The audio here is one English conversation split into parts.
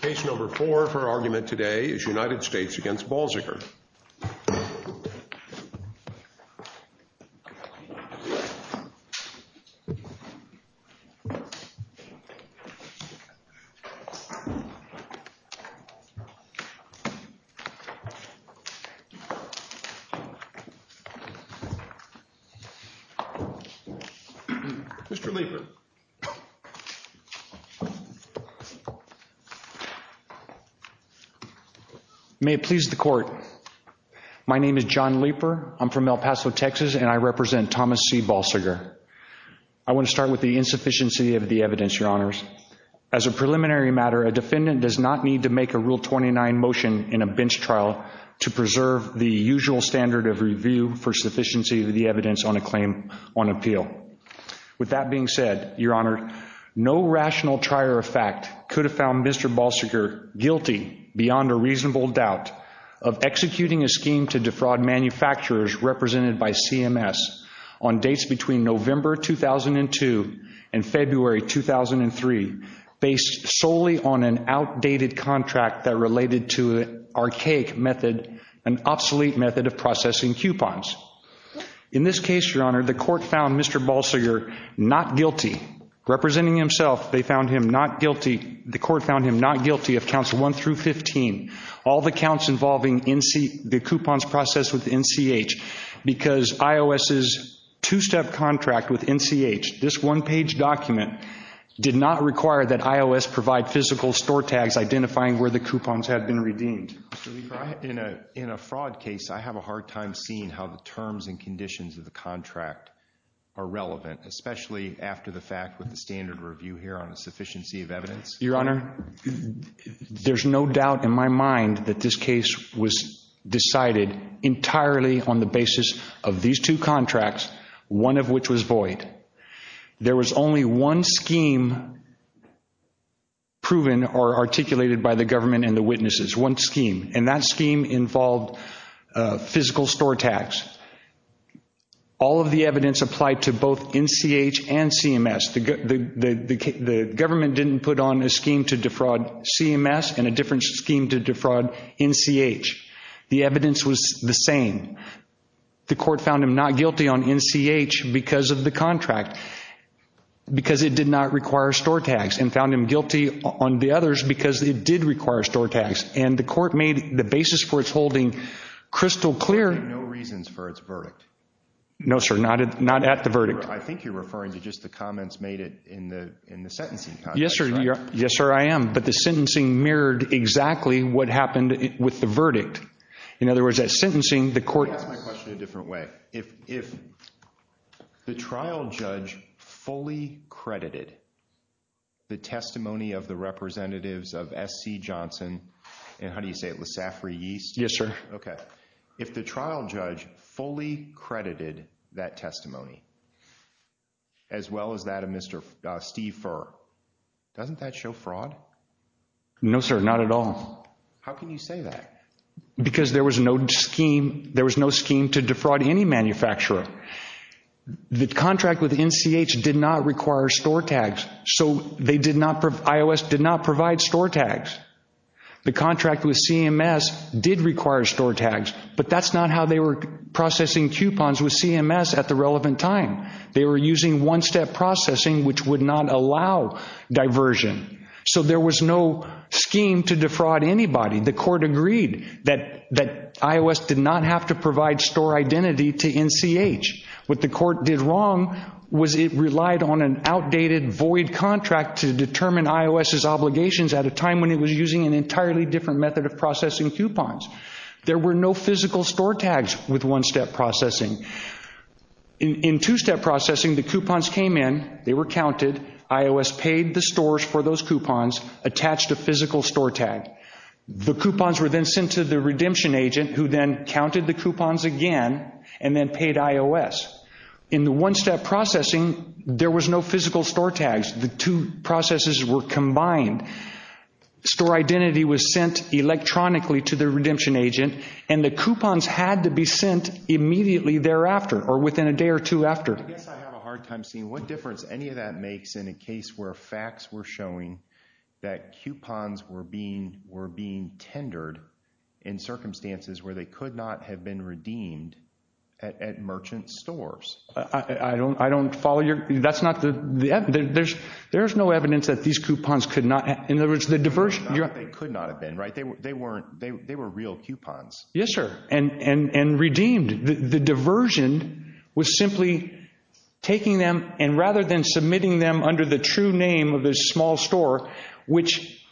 Case No. 4 for argument today is United States v. Balsiger Mr. Leeper. May it please the court. My name is John Leeper. I'm from El Paso, Texas, and I represent Thomas C. Balsiger. I want to start with the insufficiency of the evidence, Your Honors. As a preliminary matter, a defendant does not need to make a Rule 29 motion in a bench trial to preserve the usual standard of review for sufficiency of the evidence on a claim on appeal. With that being said, Your Honor, no rational trier of fact could have found Mr. Balsiger beyond a reasonable doubt of executing a scheme to defraud manufacturers represented by CMS on dates between November 2002 and February 2003 based solely on an outdated contract that related to an archaic method, an obsolete method of processing coupons. In this case, Your Honor, the court found Mr. Balsiger not guilty. Representing himself, they found him not guilty. The court found him not guilty of counts 1 through 15, all the counts involving the coupons processed with NCH because IOS's two-step contract with NCH, this one-page document, did not require that IOS provide physical store tags identifying where the coupons had been redeemed. In a fraud case, I have a hard time seeing how the terms and conditions of the contract are relevant, especially after the fact with the standard review here on a sufficiency of evidence. Your Honor, there's no doubt in my mind that this case was decided entirely on the basis of these two contracts, one of which was void. There was only one scheme proven or articulated by the government and the witnesses, one scheme, and that scheme involved physical store tags. All of the evidence applied to both NCH and CMS. The government didn't put on a scheme to defraud CMS and a different scheme to defraud NCH. The evidence was the same. The court found him not guilty on NCH because of the contract, because it did not require store tags, and found him guilty on the others because it did require store tags. And the court made the basis for its holding crystal clear. You have no reasons for its verdict. No, sir, not at the verdict. I think you're referring to just the comments made in the sentencing. Yes, sir, I am. But the sentencing mirrored exactly what happened with the verdict. In other words, at sentencing, the court— Let me ask my question a different way. If the trial judge fully credited the testimony of the representatives of S.C. Johnson, and how do you say it, LeSafree Yeast? Yes, sir. Okay. If the trial judge fully credited that testimony, as well as that of Steve Furr, doesn't that show fraud? No, sir, not at all. How can you say that? Because there was no scheme to defraud any manufacturer. The contract with NCH did not require store tags, so they did not—IOS did not provide store tags. The contract with CMS did require store tags, but that's not how they were processing coupons with CMS at the relevant time. They were using one-step processing, which would not allow diversion. So there was no scheme to defraud anybody. The court agreed that iOS did not have to provide store identity to NCH. What the court did wrong was it relied on an outdated, void contract to determine iOS's obligations at a time when it was using an entirely different method of processing coupons. There were no physical store tags with one-step processing. In two-step processing, the coupons came in, they were counted, iOS paid the stores for those coupons, attached a physical store tag. The coupons were then sent to the redemption agent, who then counted the coupons again, and then paid iOS. In the one-step processing, there was no physical store tags. The two processes were combined. Store identity was sent electronically to the redemption agent, and the coupons had to be sent immediately thereafter or within a day or two after. I guess I have a hard time seeing what difference any of that makes in a case where facts were showing that coupons were being tendered in circumstances where they could not have been redeemed at merchant stores. I don't follow your—that's not the—there's no evidence that these coupons could not have— in other words, the diversion— They could not have been, right? They were real coupons. Yes, sir, and redeemed. The diversion was simply taking them, and rather than submitting them under the true name of this small store, which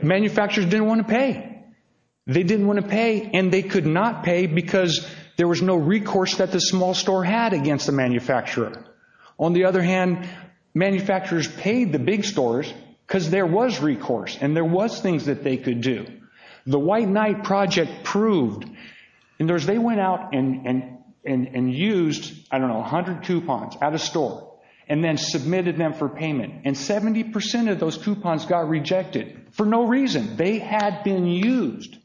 manufacturers didn't want to pay. They didn't want to pay, and they could not pay because there was no recourse that the small store had against the manufacturer. On the other hand, manufacturers paid the big stores because there was recourse, and there was things that they could do. The White Knight Project proved—in other words, they went out and used, I don't know, 100 coupons at a store, and then submitted them for payment, and 70% of those coupons got rejected for no reason. They had been used.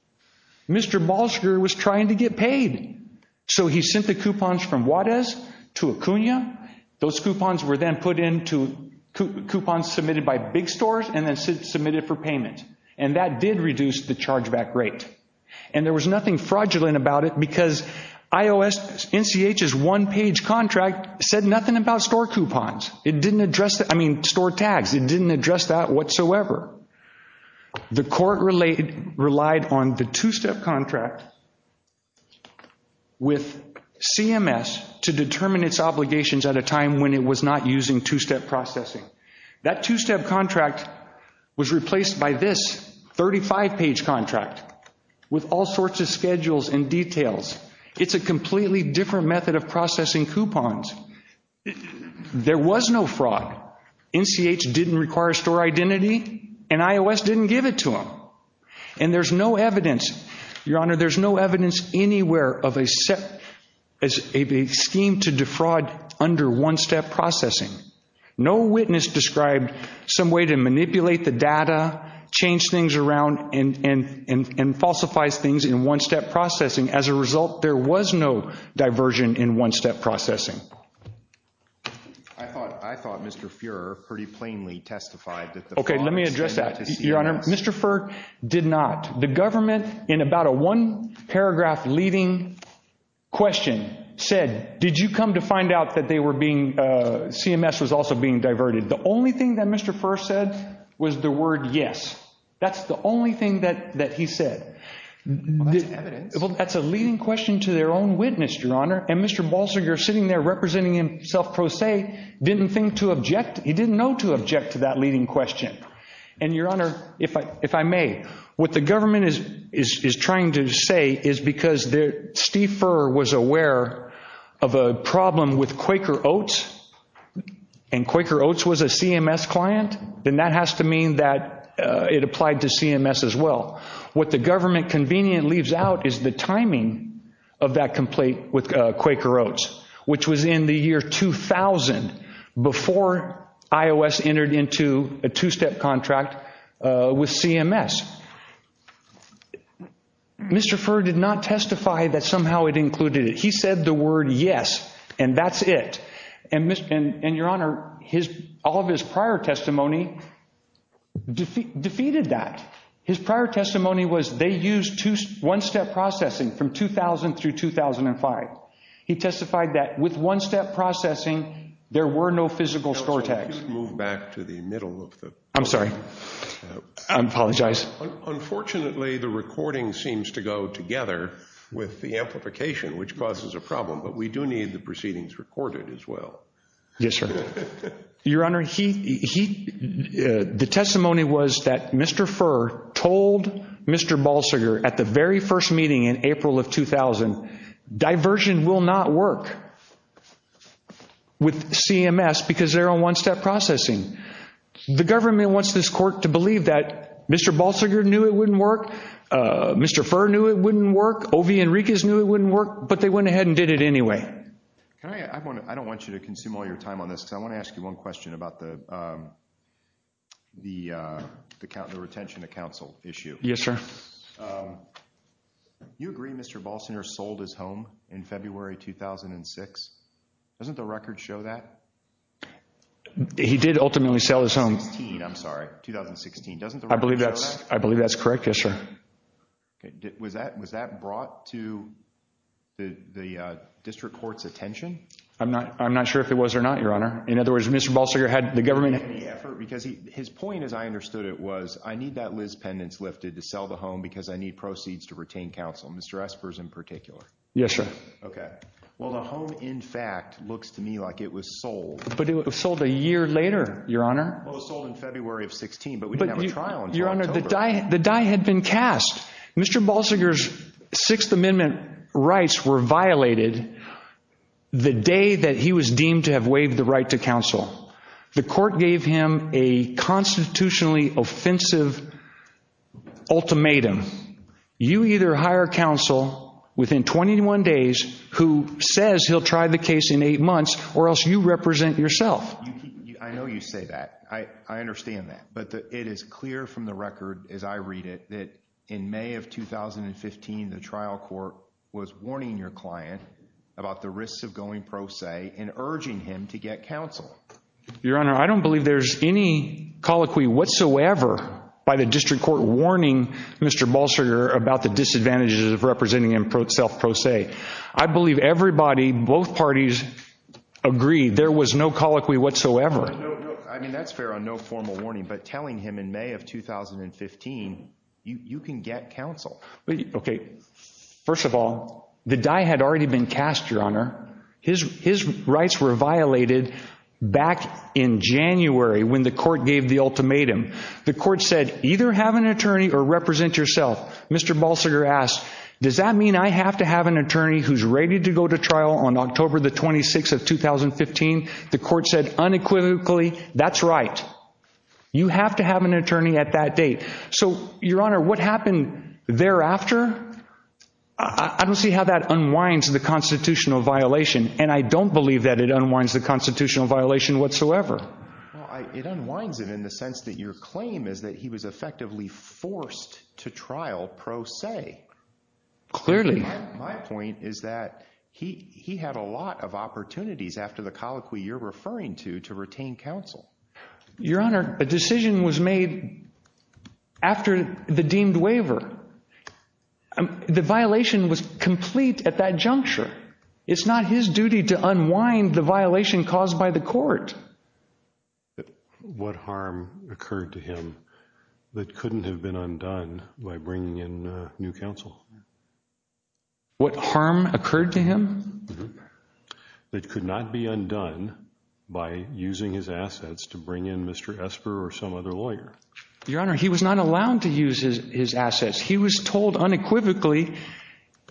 Mr. Balsher was trying to get paid, so he sent the coupons from Juarez to Acuna. Those coupons were then put into coupons submitted by big stores and then submitted for payment, and that did reduce the chargeback rate, and there was nothing fraudulent about it because IOS—NCH's one-page contract said nothing about store coupons. It didn't address—I mean, store tags. It didn't address that whatsoever. The court relied on the two-step contract with CMS to determine its obligations at a time when it was not using two-step processing. That two-step contract was replaced by this 35-page contract with all sorts of schedules and details. It's a completely different method of processing coupons. There was no fraud. NCH didn't require store identity, and IOS didn't give it to them. And there's no evidence, Your Honor, there's no evidence anywhere of a scheme to defraud under one-step processing. No witness described some way to manipulate the data, change things around, and falsify things in one-step processing. As a result, there was no diversion in one-step processing. I thought Mr. Fuhrer pretty plainly testified that the funds went to CMS. Okay, let me address that. Your Honor, Mr. Fuhrer did not. The government, in about a one-paragraph leading question, said, did you come to find out that CMS was also being diverted? The only thing that Mr. Fuhrer said was the word yes. That's the only thing that he said. Well, that's evidence. Well, that's a leading question to their own witness, Your Honor. And Mr. Balser, you're sitting there representing himself pro se, didn't think to object. He didn't know to object to that leading question. And, Your Honor, if I may, what the government is trying to say is because Steve Fuhrer was aware of a problem with Quaker Oats, and Quaker Oats was a CMS client, then that has to mean that it applied to CMS as well. What the government conveniently leaves out is the timing of that complaint with Quaker Oats, which was in the year 2000, before iOS entered into a two-step contract with CMS. Mr. Fuhrer did not testify that somehow it included it. He said the word yes, and that's it. And, Your Honor, all of his prior testimony defeated that. His prior testimony was they used one-step processing from 2000 through 2005. He testified that with one-step processing, there were no physical score tags. If you could move back to the middle of the… I'm sorry. I apologize. Unfortunately, the recording seems to go together with the amplification, which causes a problem. But we do need the proceedings recorded as well. Yes, sir. Your Honor, the testimony was that Mr. Fuhrer told Mr. Balsiger at the very first meeting in April of 2000, diversion will not work with CMS because they're on one-step processing. The government wants this court to believe that Mr. Balsiger knew it wouldn't work, Mr. Fuhrer knew it wouldn't work, OV Enriquez knew it wouldn't work, but they went ahead and did it anyway. I don't want you to consume all your time on this, because I want to ask you one question about the retention of counsel issue. Yes, sir. Do you agree Mr. Balsiger sold his home in February 2006? Doesn't the record show that? He did ultimately sell his home. I'm sorry, 2016. Doesn't the record show that? I believe that's correct, yes, sir. Was that brought to the district court's attention? I'm not sure if it was or not, Your Honor. In other words, Mr. Balsiger had the government… Because his point, as I understood it, was, I need that Liz Pendence lifted to sell the home because I need proceeds to retain counsel, Mr. Espers in particular. Yes, sir. Okay. Well, the home, in fact, looks to me like it was sold. But it was sold a year later, Your Honor. Well, it was sold in February of 2016, but we didn't have a trial until October. Your Honor, the die had been cast. Mr. Balsiger's Sixth Amendment rights were violated the day that he was deemed to have waived the right to counsel. The court gave him a constitutionally offensive ultimatum. You either hire counsel within 21 days who says he'll try the case in eight months or else you represent yourself. I know you say that. I understand that. But it is clear from the record, as I read it, that in May of 2015, the trial court was warning your client about the risks of going pro se and urging him to get counsel. Your Honor, I don't believe there's any colloquy whatsoever by the district court warning Mr. Balsiger about the disadvantages of representing himself pro se. I believe everybody, both parties, agreed there was no colloquy whatsoever. I mean, that's fair on no formal warning, but telling him in May of 2015, you can get counsel. Okay. First of all, the die had already been cast, Your Honor. His rights were violated back in January when the court gave the ultimatum. The court said either have an attorney or represent yourself. Mr. Balsiger asked, does that mean I have to have an attorney who's ready to go to trial on October the 26th of 2015? The court said unequivocally, that's right. You have to have an attorney at that date. So, Your Honor, what happened thereafter, I don't see how that unwinds the constitutional violation, and I don't believe that it unwinds the constitutional violation whatsoever. Well, it unwinds it in the sense that your claim is that he was effectively forced to trial pro se. Clearly. My point is that he had a lot of opportunities after the colloquy you're referring to to retain counsel. Your Honor, a decision was made after the deemed waiver. The violation was complete at that juncture. It's not his duty to unwind the violation caused by the court. What harm occurred to him that couldn't have been undone by bringing in new counsel? What harm occurred to him? That could not be undone by using his assets to bring in Mr. Esper or some other lawyer. Your Honor, he was not allowed to use his assets. He was told unequivocally,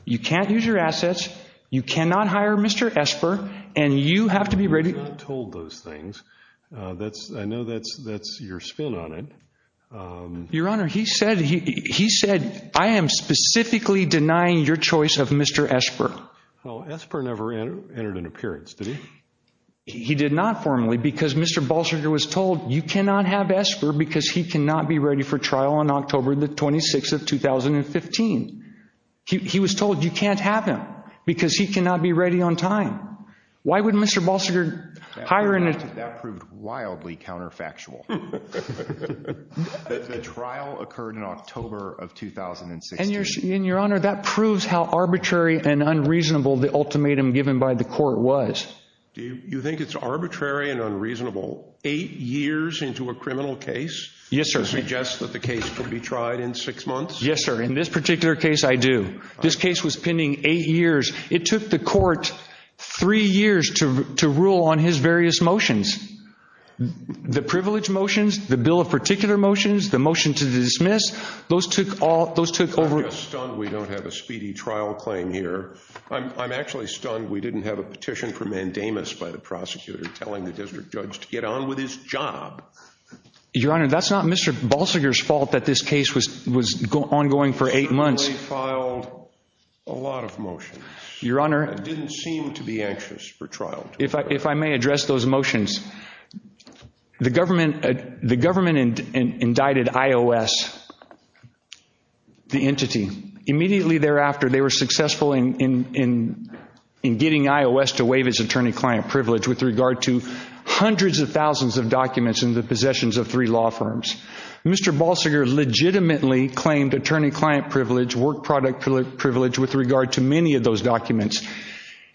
you can't use your assets, you cannot hire Mr. Esper, and you have to be ready. He was not told those things. I know that's your spin on it. Your Honor, he said, I am specifically denying your choice of Mr. Esper. Esper never entered an appearance, did he? He did not formally because Mr. Balsiger was told you cannot have Esper because he cannot be ready for trial on October 26, 2015. He was told you can't have him because he cannot be ready on time. Why would Mr. Balsiger hire him? That proved wildly counterfactual. The trial occurred in October of 2016. And, Your Honor, that proves how arbitrary and unreasonable the ultimatum given by the court was. You think it's arbitrary and unreasonable eight years into a criminal case to suggest that the case could be tried in six months? Yes, sir. In this particular case, I do. This case was pending eight years. It took the court three years to rule on his various motions. The privilege motions, the bill of particular motions, the motion to dismiss, those took over. I'm just stunned we don't have a speedy trial claim here. I'm actually stunned we didn't have a petition for mandamus by the prosecutor telling the district judge to get on with his job. Your Honor, that's not Mr. Balsiger's fault that this case was ongoing for eight months. The jury filed a lot of motions. Your Honor. It didn't seem to be anxious for trial. If I may address those motions, the government indicted IOS, the entity. Immediately thereafter, they were successful in getting IOS to waive its attorney-client privilege with regard to hundreds of thousands of documents in the possessions of three law firms. Mr. Balsiger legitimately claimed attorney-client privilege, work product privilege with regard to many of those documents.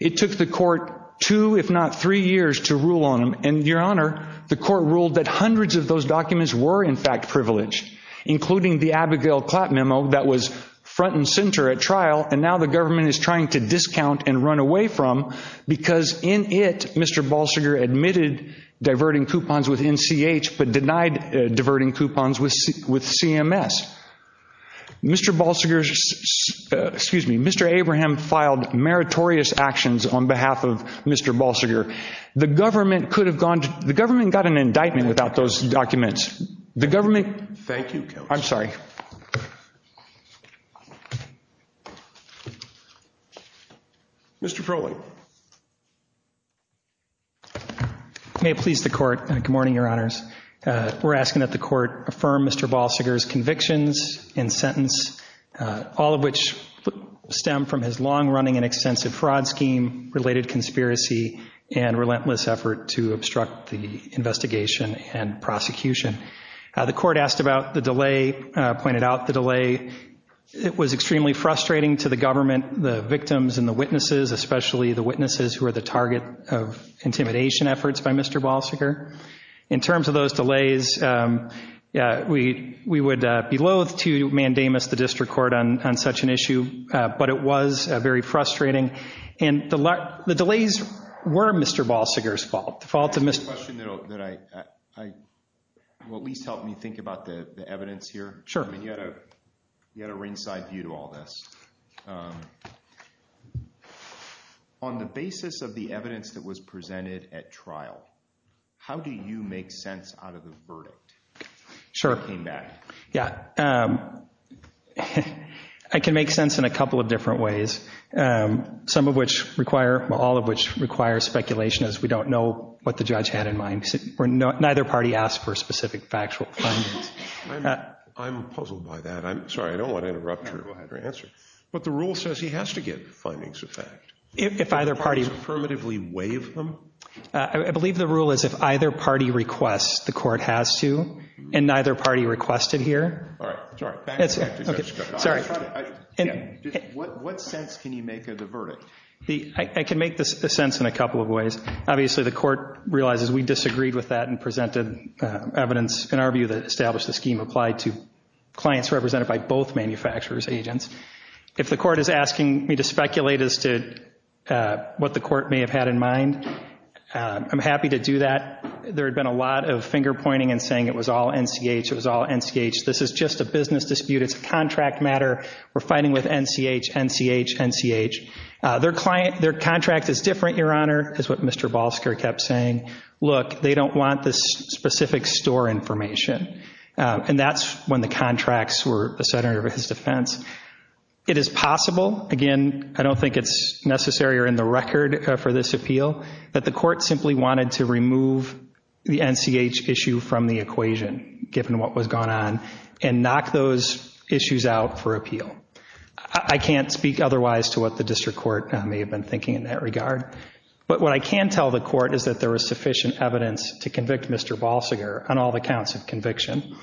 It took the court two if not three years to rule on them. And, Your Honor, the court ruled that hundreds of those documents were, in fact, privileged, including the Abigail Clapp memo that was front and center at trial. And now the government is trying to discount and run away from because, in it, Mr. Balsiger admitted diverting coupons with NCH but denied diverting coupons with CMS. Mr. Balsiger's – excuse me, Mr. Abraham filed meritorious actions on behalf of Mr. Balsiger. The government could have gone – the government got an indictment without those documents. The government – Thank you. I'm sorry. Mr. Froehlich. May it please the court. Good morning, Your Honors. We're asking that the court affirm Mr. Balsiger's convictions and sentence, all of which stem from his long-running and extensive fraud scheme, related conspiracy, and relentless effort to obstruct the investigation and prosecution. The court asked about the delay, pointed out the delay. It was extremely frustrating to the government, the victims, and the witnesses, especially the witnesses who are the target of intimidation efforts by Mr. Balsiger. In terms of those delays, we would be loath to mandamus the district court on such an issue, but it was very frustrating. And the delays were Mr. Balsiger's fault, the fault of Mr. – Can I ask a question that will at least help me think about the evidence here? Sure. You had a ringside view to all this. On the basis of the evidence that was presented at trial, how do you make sense out of the verdict? Sure. When you came back. Yeah. I can make sense in a couple of different ways, some of which require – well, all of which require speculation as we don't know what the judge had in mind. Neither party asked for specific factual findings. I'm puzzled by that. I'm sorry. I don't want to interrupt your answer, but the rule says he has to get findings of fact. If either party – Affirmatively waive them? I believe the rule is if either party requests, the court has to, and neither party requested here. All right. Sorry. Sorry. What sense can you make of the verdict? I can make the sense in a couple of ways. Obviously, the court realizes we disagreed with that and presented evidence in our view that established the scheme applied to clients represented by both manufacturers' agents. If the court is asking me to speculate as to what the court may have had in mind, I'm happy to do that. There had been a lot of finger-pointing and saying it was all NCH, it was all NCH. This is just a business dispute. It's a contract matter. We're fighting with NCH, NCH, NCH. Their contract is different, Your Honor, is what Mr. Balsker kept saying. Look, they don't want this specific store information. And that's when the contracts were the center of his defense. It is possible, again, I don't think it's necessary or in the record for this appeal, that the court simply wanted to remove the NCH issue from the equation, given what was going on, and knock those issues out for appeal. I can't speak otherwise to what the district court may have been thinking in that regard. But what I can tell the court is that there was sufficient evidence to convict Mr. Balsker on all the counts of conviction.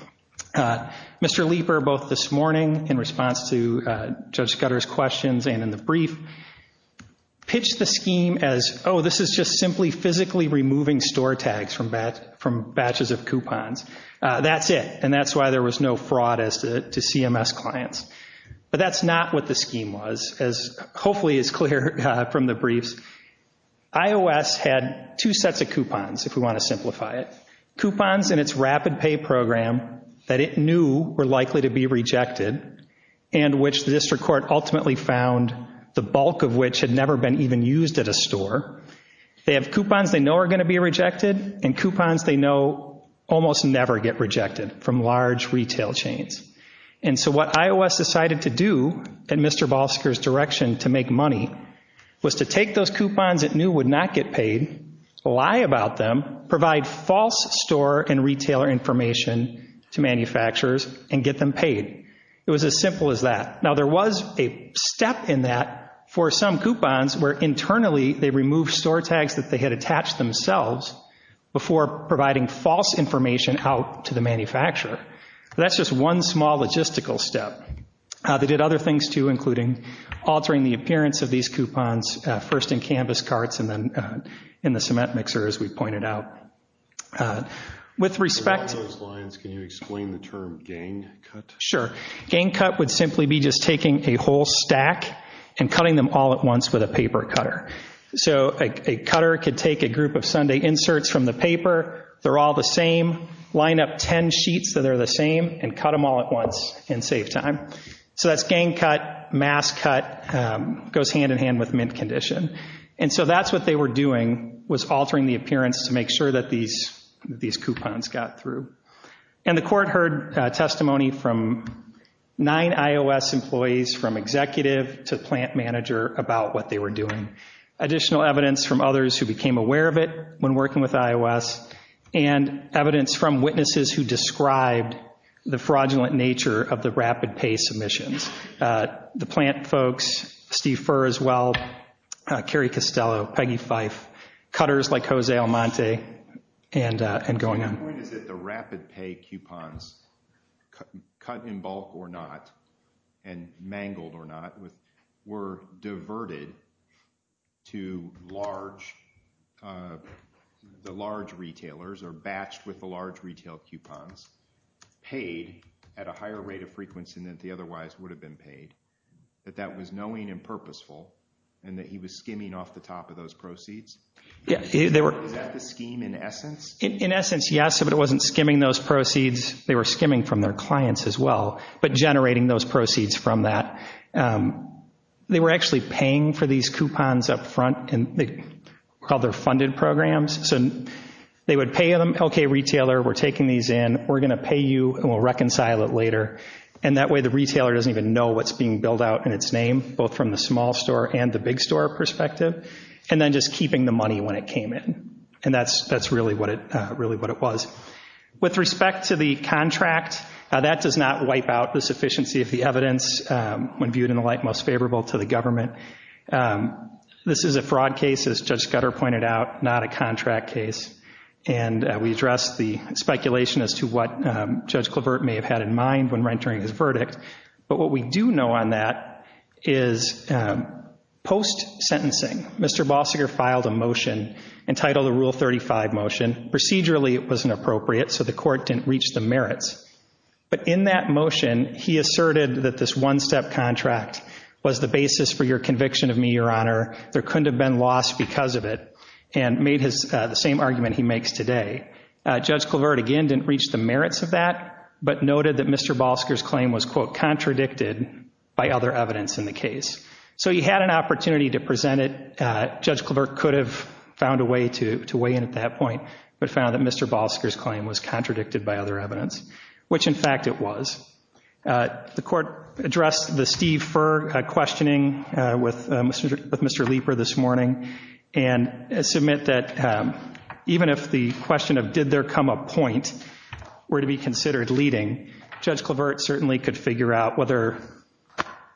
Mr. Leeper, both this morning in response to Judge Scudder's questions and in the brief, pitched the scheme as, oh, this is just simply physically removing store tags from batches of coupons. That's it, and that's why there was no fraud as to CMS clients. But that's not what the scheme was, as hopefully is clear from the briefs. IOS had two sets of coupons, if we want to simplify it. Coupons in its rapid pay program that it knew were likely to be rejected, and which the district court ultimately found the bulk of which had never been even used at a store. They have coupons they know are going to be rejected, and coupons they know almost never get rejected from large retail chains. And so what IOS decided to do, in Mr. Balsker's direction to make money, was to take those coupons it knew would not get paid, lie about them, provide false store and retailer information to manufacturers, and get them paid. It was as simple as that. Now, there was a step in that for some coupons where internally they removed store tags that they had attached themselves before providing false information out to the manufacturer. That's just one small logistical step. They did other things, too, including altering the appearance of these coupons, first in canvas carts and then in the cement mixer, as we pointed out. With respect to those lines, can you explain the term gang cut? Sure. Gang cut would simply be just taking a whole stack and cutting them all at once with a paper cutter. So a cutter could take a group of Sunday inserts from the paper, they're all the same, line up ten sheets that are the same, and cut them all at once and save time. So that's gang cut. Mass cut goes hand-in-hand with mint condition. And so that's what they were doing, was altering the appearance to make sure that these coupons got through. And the court heard testimony from nine IOS employees, from executive to plant manager, about what they were doing. Additional evidence from others who became aware of it when working with IOS and evidence from witnesses who described the fraudulent nature of the rapid pay submissions. The plant folks, Steve Furr as well, Carrie Costello, Peggy Fife, cutters like Jose Almonte, and going on. My point is that the rapid pay coupons, cut in bulk or not, and mangled or not, were diverted to the large retailers or batched with the large retail coupons, paid at a higher rate of frequency than they otherwise would have been paid. That that was knowing and purposeful, and that he was skimming off the top of those proceeds? Is that the scheme in essence? In essence, yes, but it wasn't skimming those proceeds. They were skimming from their clients as well, but generating those proceeds from that. They were actually paying for these coupons up front, and they called their funded programs. So they would pay them, okay, retailer, we're taking these in. We're going to pay you, and we'll reconcile it later. And that way the retailer doesn't even know what's being billed out in its name, both from the small store and the big store perspective, and then just keeping the money when it came in. And that's really what it was. With respect to the contract, that does not wipe out the sufficiency of the evidence when viewed in the light most favorable to the government. This is a fraud case, as Judge Scudder pointed out, not a contract case. And we addressed the speculation as to what Judge Clavert may have had in mind when rendering his verdict. But what we do know on that is post-sentencing, Mr. Balsiger filed a motion entitled the Rule 35 motion. Procedurally it wasn't appropriate, so the court didn't reach the merits. But in that motion, he asserted that this one-step contract was the basis for your conviction of me, Your Honor. There couldn't have been loss because of it, and made the same argument he makes today. Judge Clavert, again, didn't reach the merits of that, but noted that Mr. Balsiger's claim was, quote, contradicted by other evidence in the case. So he had an opportunity to present it. Judge Clavert could have found a way to weigh in at that point, but found that Mr. Balsiger's claim was contradicted by other evidence, which, in fact, it was. The court addressed the Steve Furr questioning with Mr. Leeper this morning, and submit that even if the question of did there come a point were to be considered leading, Judge Clavert certainly could figure out whether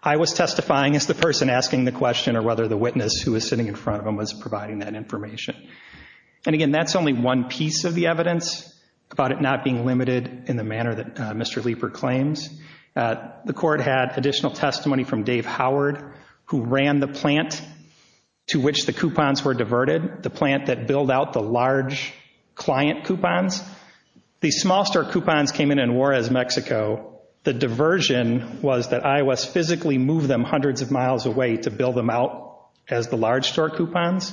I was testifying as the person asking the question or whether the witness who was sitting in front of him was providing that information. And, again, that's only one piece of the evidence about it not being limited in the manner that Mr. Leeper claims. The court had additional testimony from Dave Howard, who ran the plant to which the coupons were diverted, the plant that billed out the large client coupons. These small-star coupons came in in Juarez, Mexico. The diversion was that IOS physically moved them hundreds of miles away to bill them out as the large-store coupons,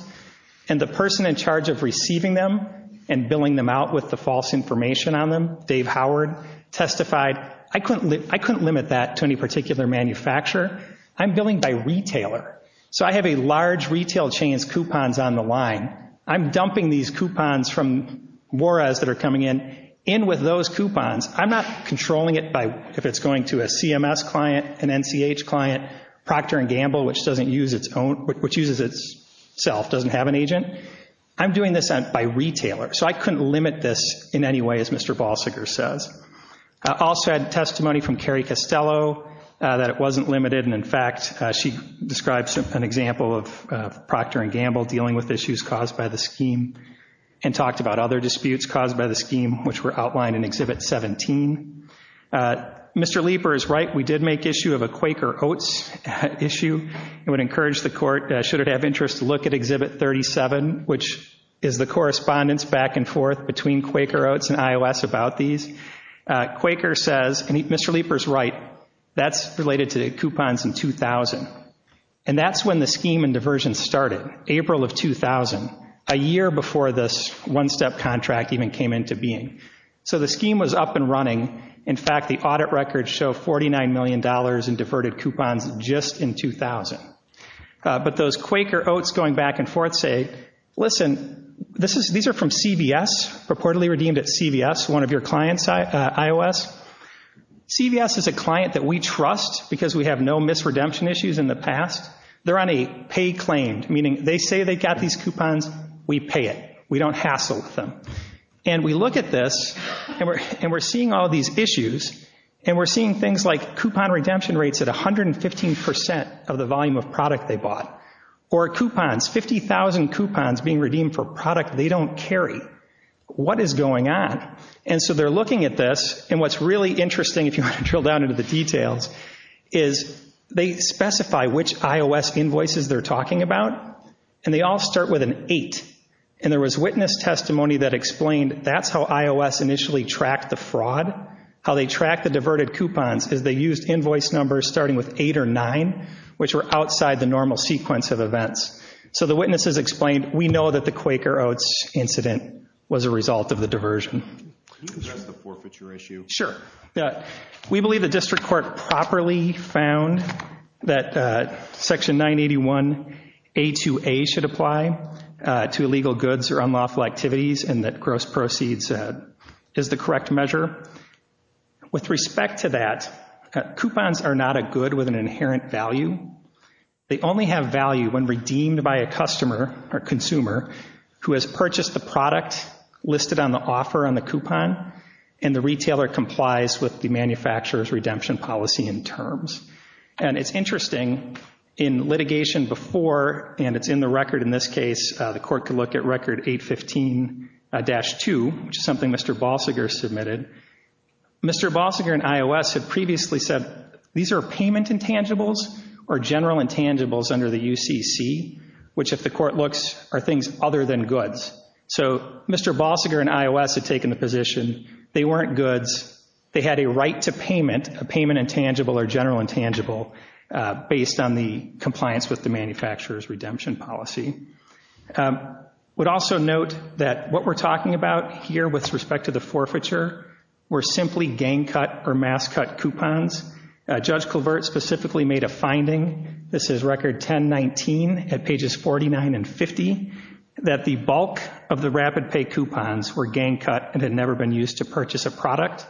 and the person in charge of receiving them and billing them out with the false information on them, Dave Howard, testified, I couldn't limit that to any particular manufacturer. I'm billing by retailer, so I have a large retail chain's coupons on the line. I'm dumping these coupons from Juarez that are coming in in with those coupons. I'm not controlling it by if it's going to a CMS client, an NCH client, Procter & Gamble, which uses itself, doesn't have an agent. I'm doing this by retailer, so I couldn't limit this in any way, as Mr. Balsiger says. I also had testimony from Carrie Costello that it wasn't limited, and, in fact, she describes an example of Procter & Gamble dealing with issues caused by the scheme and talked about other disputes caused by the scheme, which were outlined in Exhibit 17. Mr. Leeper is right. We did make issue of a Quaker Oats issue. It would encourage the court, should it have interest, to look at Exhibit 37, which is the correspondence back and forth between Quaker Oats and IOS about these. Quaker says, and Mr. Leeper's right, that's related to coupons in 2000, and that's when the scheme and diversion started, April of 2000, a year before this one-step contract even came into being. So the scheme was up and running. In fact, the audit records show $49 million in diverted coupons just in 2000. But those Quaker Oats going back and forth say, listen, these are from CVS, purportedly redeemed at CVS, one of your clients, IOS. CVS is a client that we trust because we have no misredemption issues in the past. They're on a pay claim, meaning they say they got these coupons, we pay it. We don't hassle with them. And we look at this, and we're seeing all these issues, and we're seeing things like coupon redemption rates at 115% of the volume of product they bought, or coupons, 50,000 coupons being redeemed for product they don't carry. What is going on? And so they're looking at this, and what's really interesting, if you want to drill down into the details, is they specify which IOS invoices they're talking about, and they all start with an 8. And there was witness testimony that explained that's how IOS initially tracked the fraud, how they tracked the diverted coupons is they used invoice numbers starting with 8 or 9, which were outside the normal sequence of events. So the witnesses explained, we know that the Quaker Oats incident was a result of the diversion. Can you address the forfeiture issue? Sure. We believe the district court properly found that Section 981A2A should apply to illegal goods or unlawful activities, and that gross proceeds is the correct measure. With respect to that, coupons are not a good with an inherent value. They only have value when redeemed by a customer or consumer who has purchased the product listed on the offer on the coupon, and the retailer complies with the manufacturer's redemption policy in terms. And it's interesting, in litigation before, and it's in the record in this case, the court could look at Record 815-2, which is something Mr. Balsiger submitted. Mr. Balsiger in IOS had previously said, these are payment intangibles or general intangibles under the UCC, which if the court looks are things other than goods. So Mr. Balsiger in IOS had taken the position they weren't goods. They had a right to payment, a payment intangible or general intangible, based on the compliance with the manufacturer's redemption policy. I would also note that what we're talking about here with respect to the forfeiture were simply gang cut or mass cut coupons. Judge Colvert specifically made a finding, this is Record 1019 at pages 49 and 50, that the bulk of the rapid pay coupons were gang cut and had never been used to purchase a product.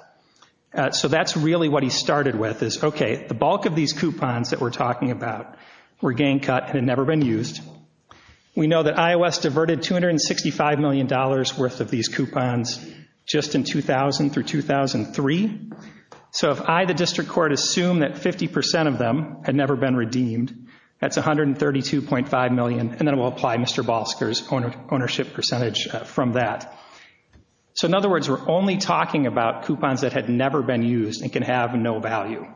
So that's really what he started with is, okay, the bulk of these coupons that we're talking about were gang cut and had never been used. We know that IOS diverted $265 million worth of these coupons just in 2000 through 2003. So if I, the district court, assume that 50% of them had never been redeemed, that's $132.5 million, and then we'll apply Mr. Balsiger's ownership percentage from that. So in other words, we're only talking about coupons that had never been used and can have no value.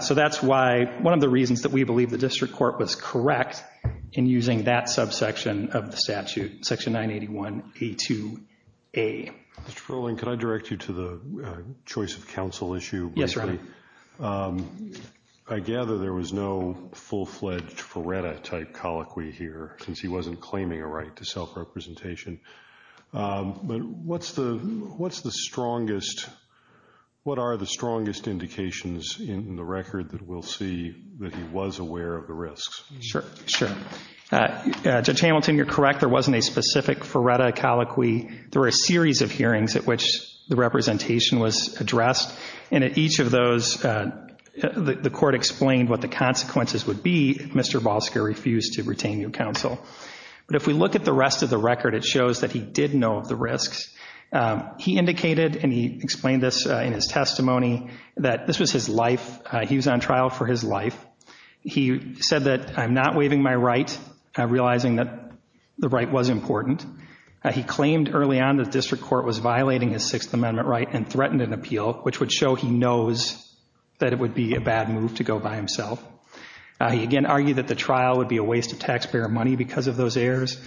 So that's why, one of the reasons that we believe the district court was correct in using that subsection of the statute, Section 981A2A. Mr. Perling, can I direct you to the choice of counsel issue briefly? Yes, Your Honor. I gather there was no full-fledged Feretta-type colloquy here since he wasn't claiming a right to self-representation. But what's the strongest, what are the strongest indications in the record that we'll see that he was aware of the risks? Sure, sure. Judge Hamilton, you're correct. There wasn't a specific Feretta colloquy. There were a series of hearings at which the representation was addressed, and at each of those, the court explained what the consequences would be if Mr. Balsiger refused to retain new counsel. But if we look at the rest of the record, it shows that he did know of the risks. He indicated, and he explained this in his testimony, that this was his life. He was on trial for his life. He said that, I'm not waiving my right, realizing that the right was important. He claimed early on that the district court was violating his Sixth Amendment right and threatened an appeal, which would show he knows that it would be a bad move to go by himself. He again argued that the trial would be a waste of taxpayer money because of those errors.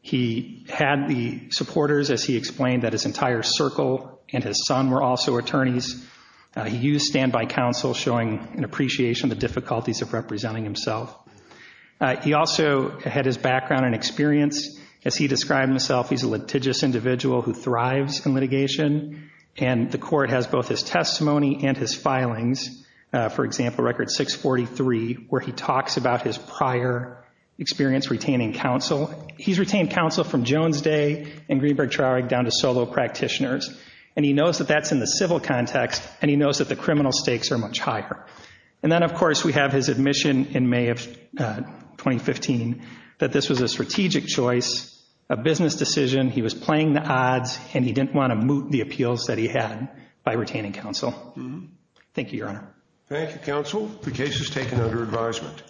He had the supporters, as he explained, that his entire circle and his son were also attorneys. He used standby counsel, showing an appreciation of the difficulties of representing himself. He also had his background and experience. As he described himself, he's a litigious individual who thrives in litigation, and the court has both his testimony and his filings. For example, Record 643, where he talks about his prior experience retaining counsel. He's retained counsel from Jones Day and Greenberg-Traurig down to solo practitioners, and he knows that that's in the civil context, and he knows that the criminal stakes are much higher. And then, of course, we have his admission in May of 2015 that this was a strategic choice, a business decision. He was playing the odds, and he didn't want to moot the appeals that he had by retaining counsel. Thank you, Your Honor. Thank you, counsel. The case is taken under advisement.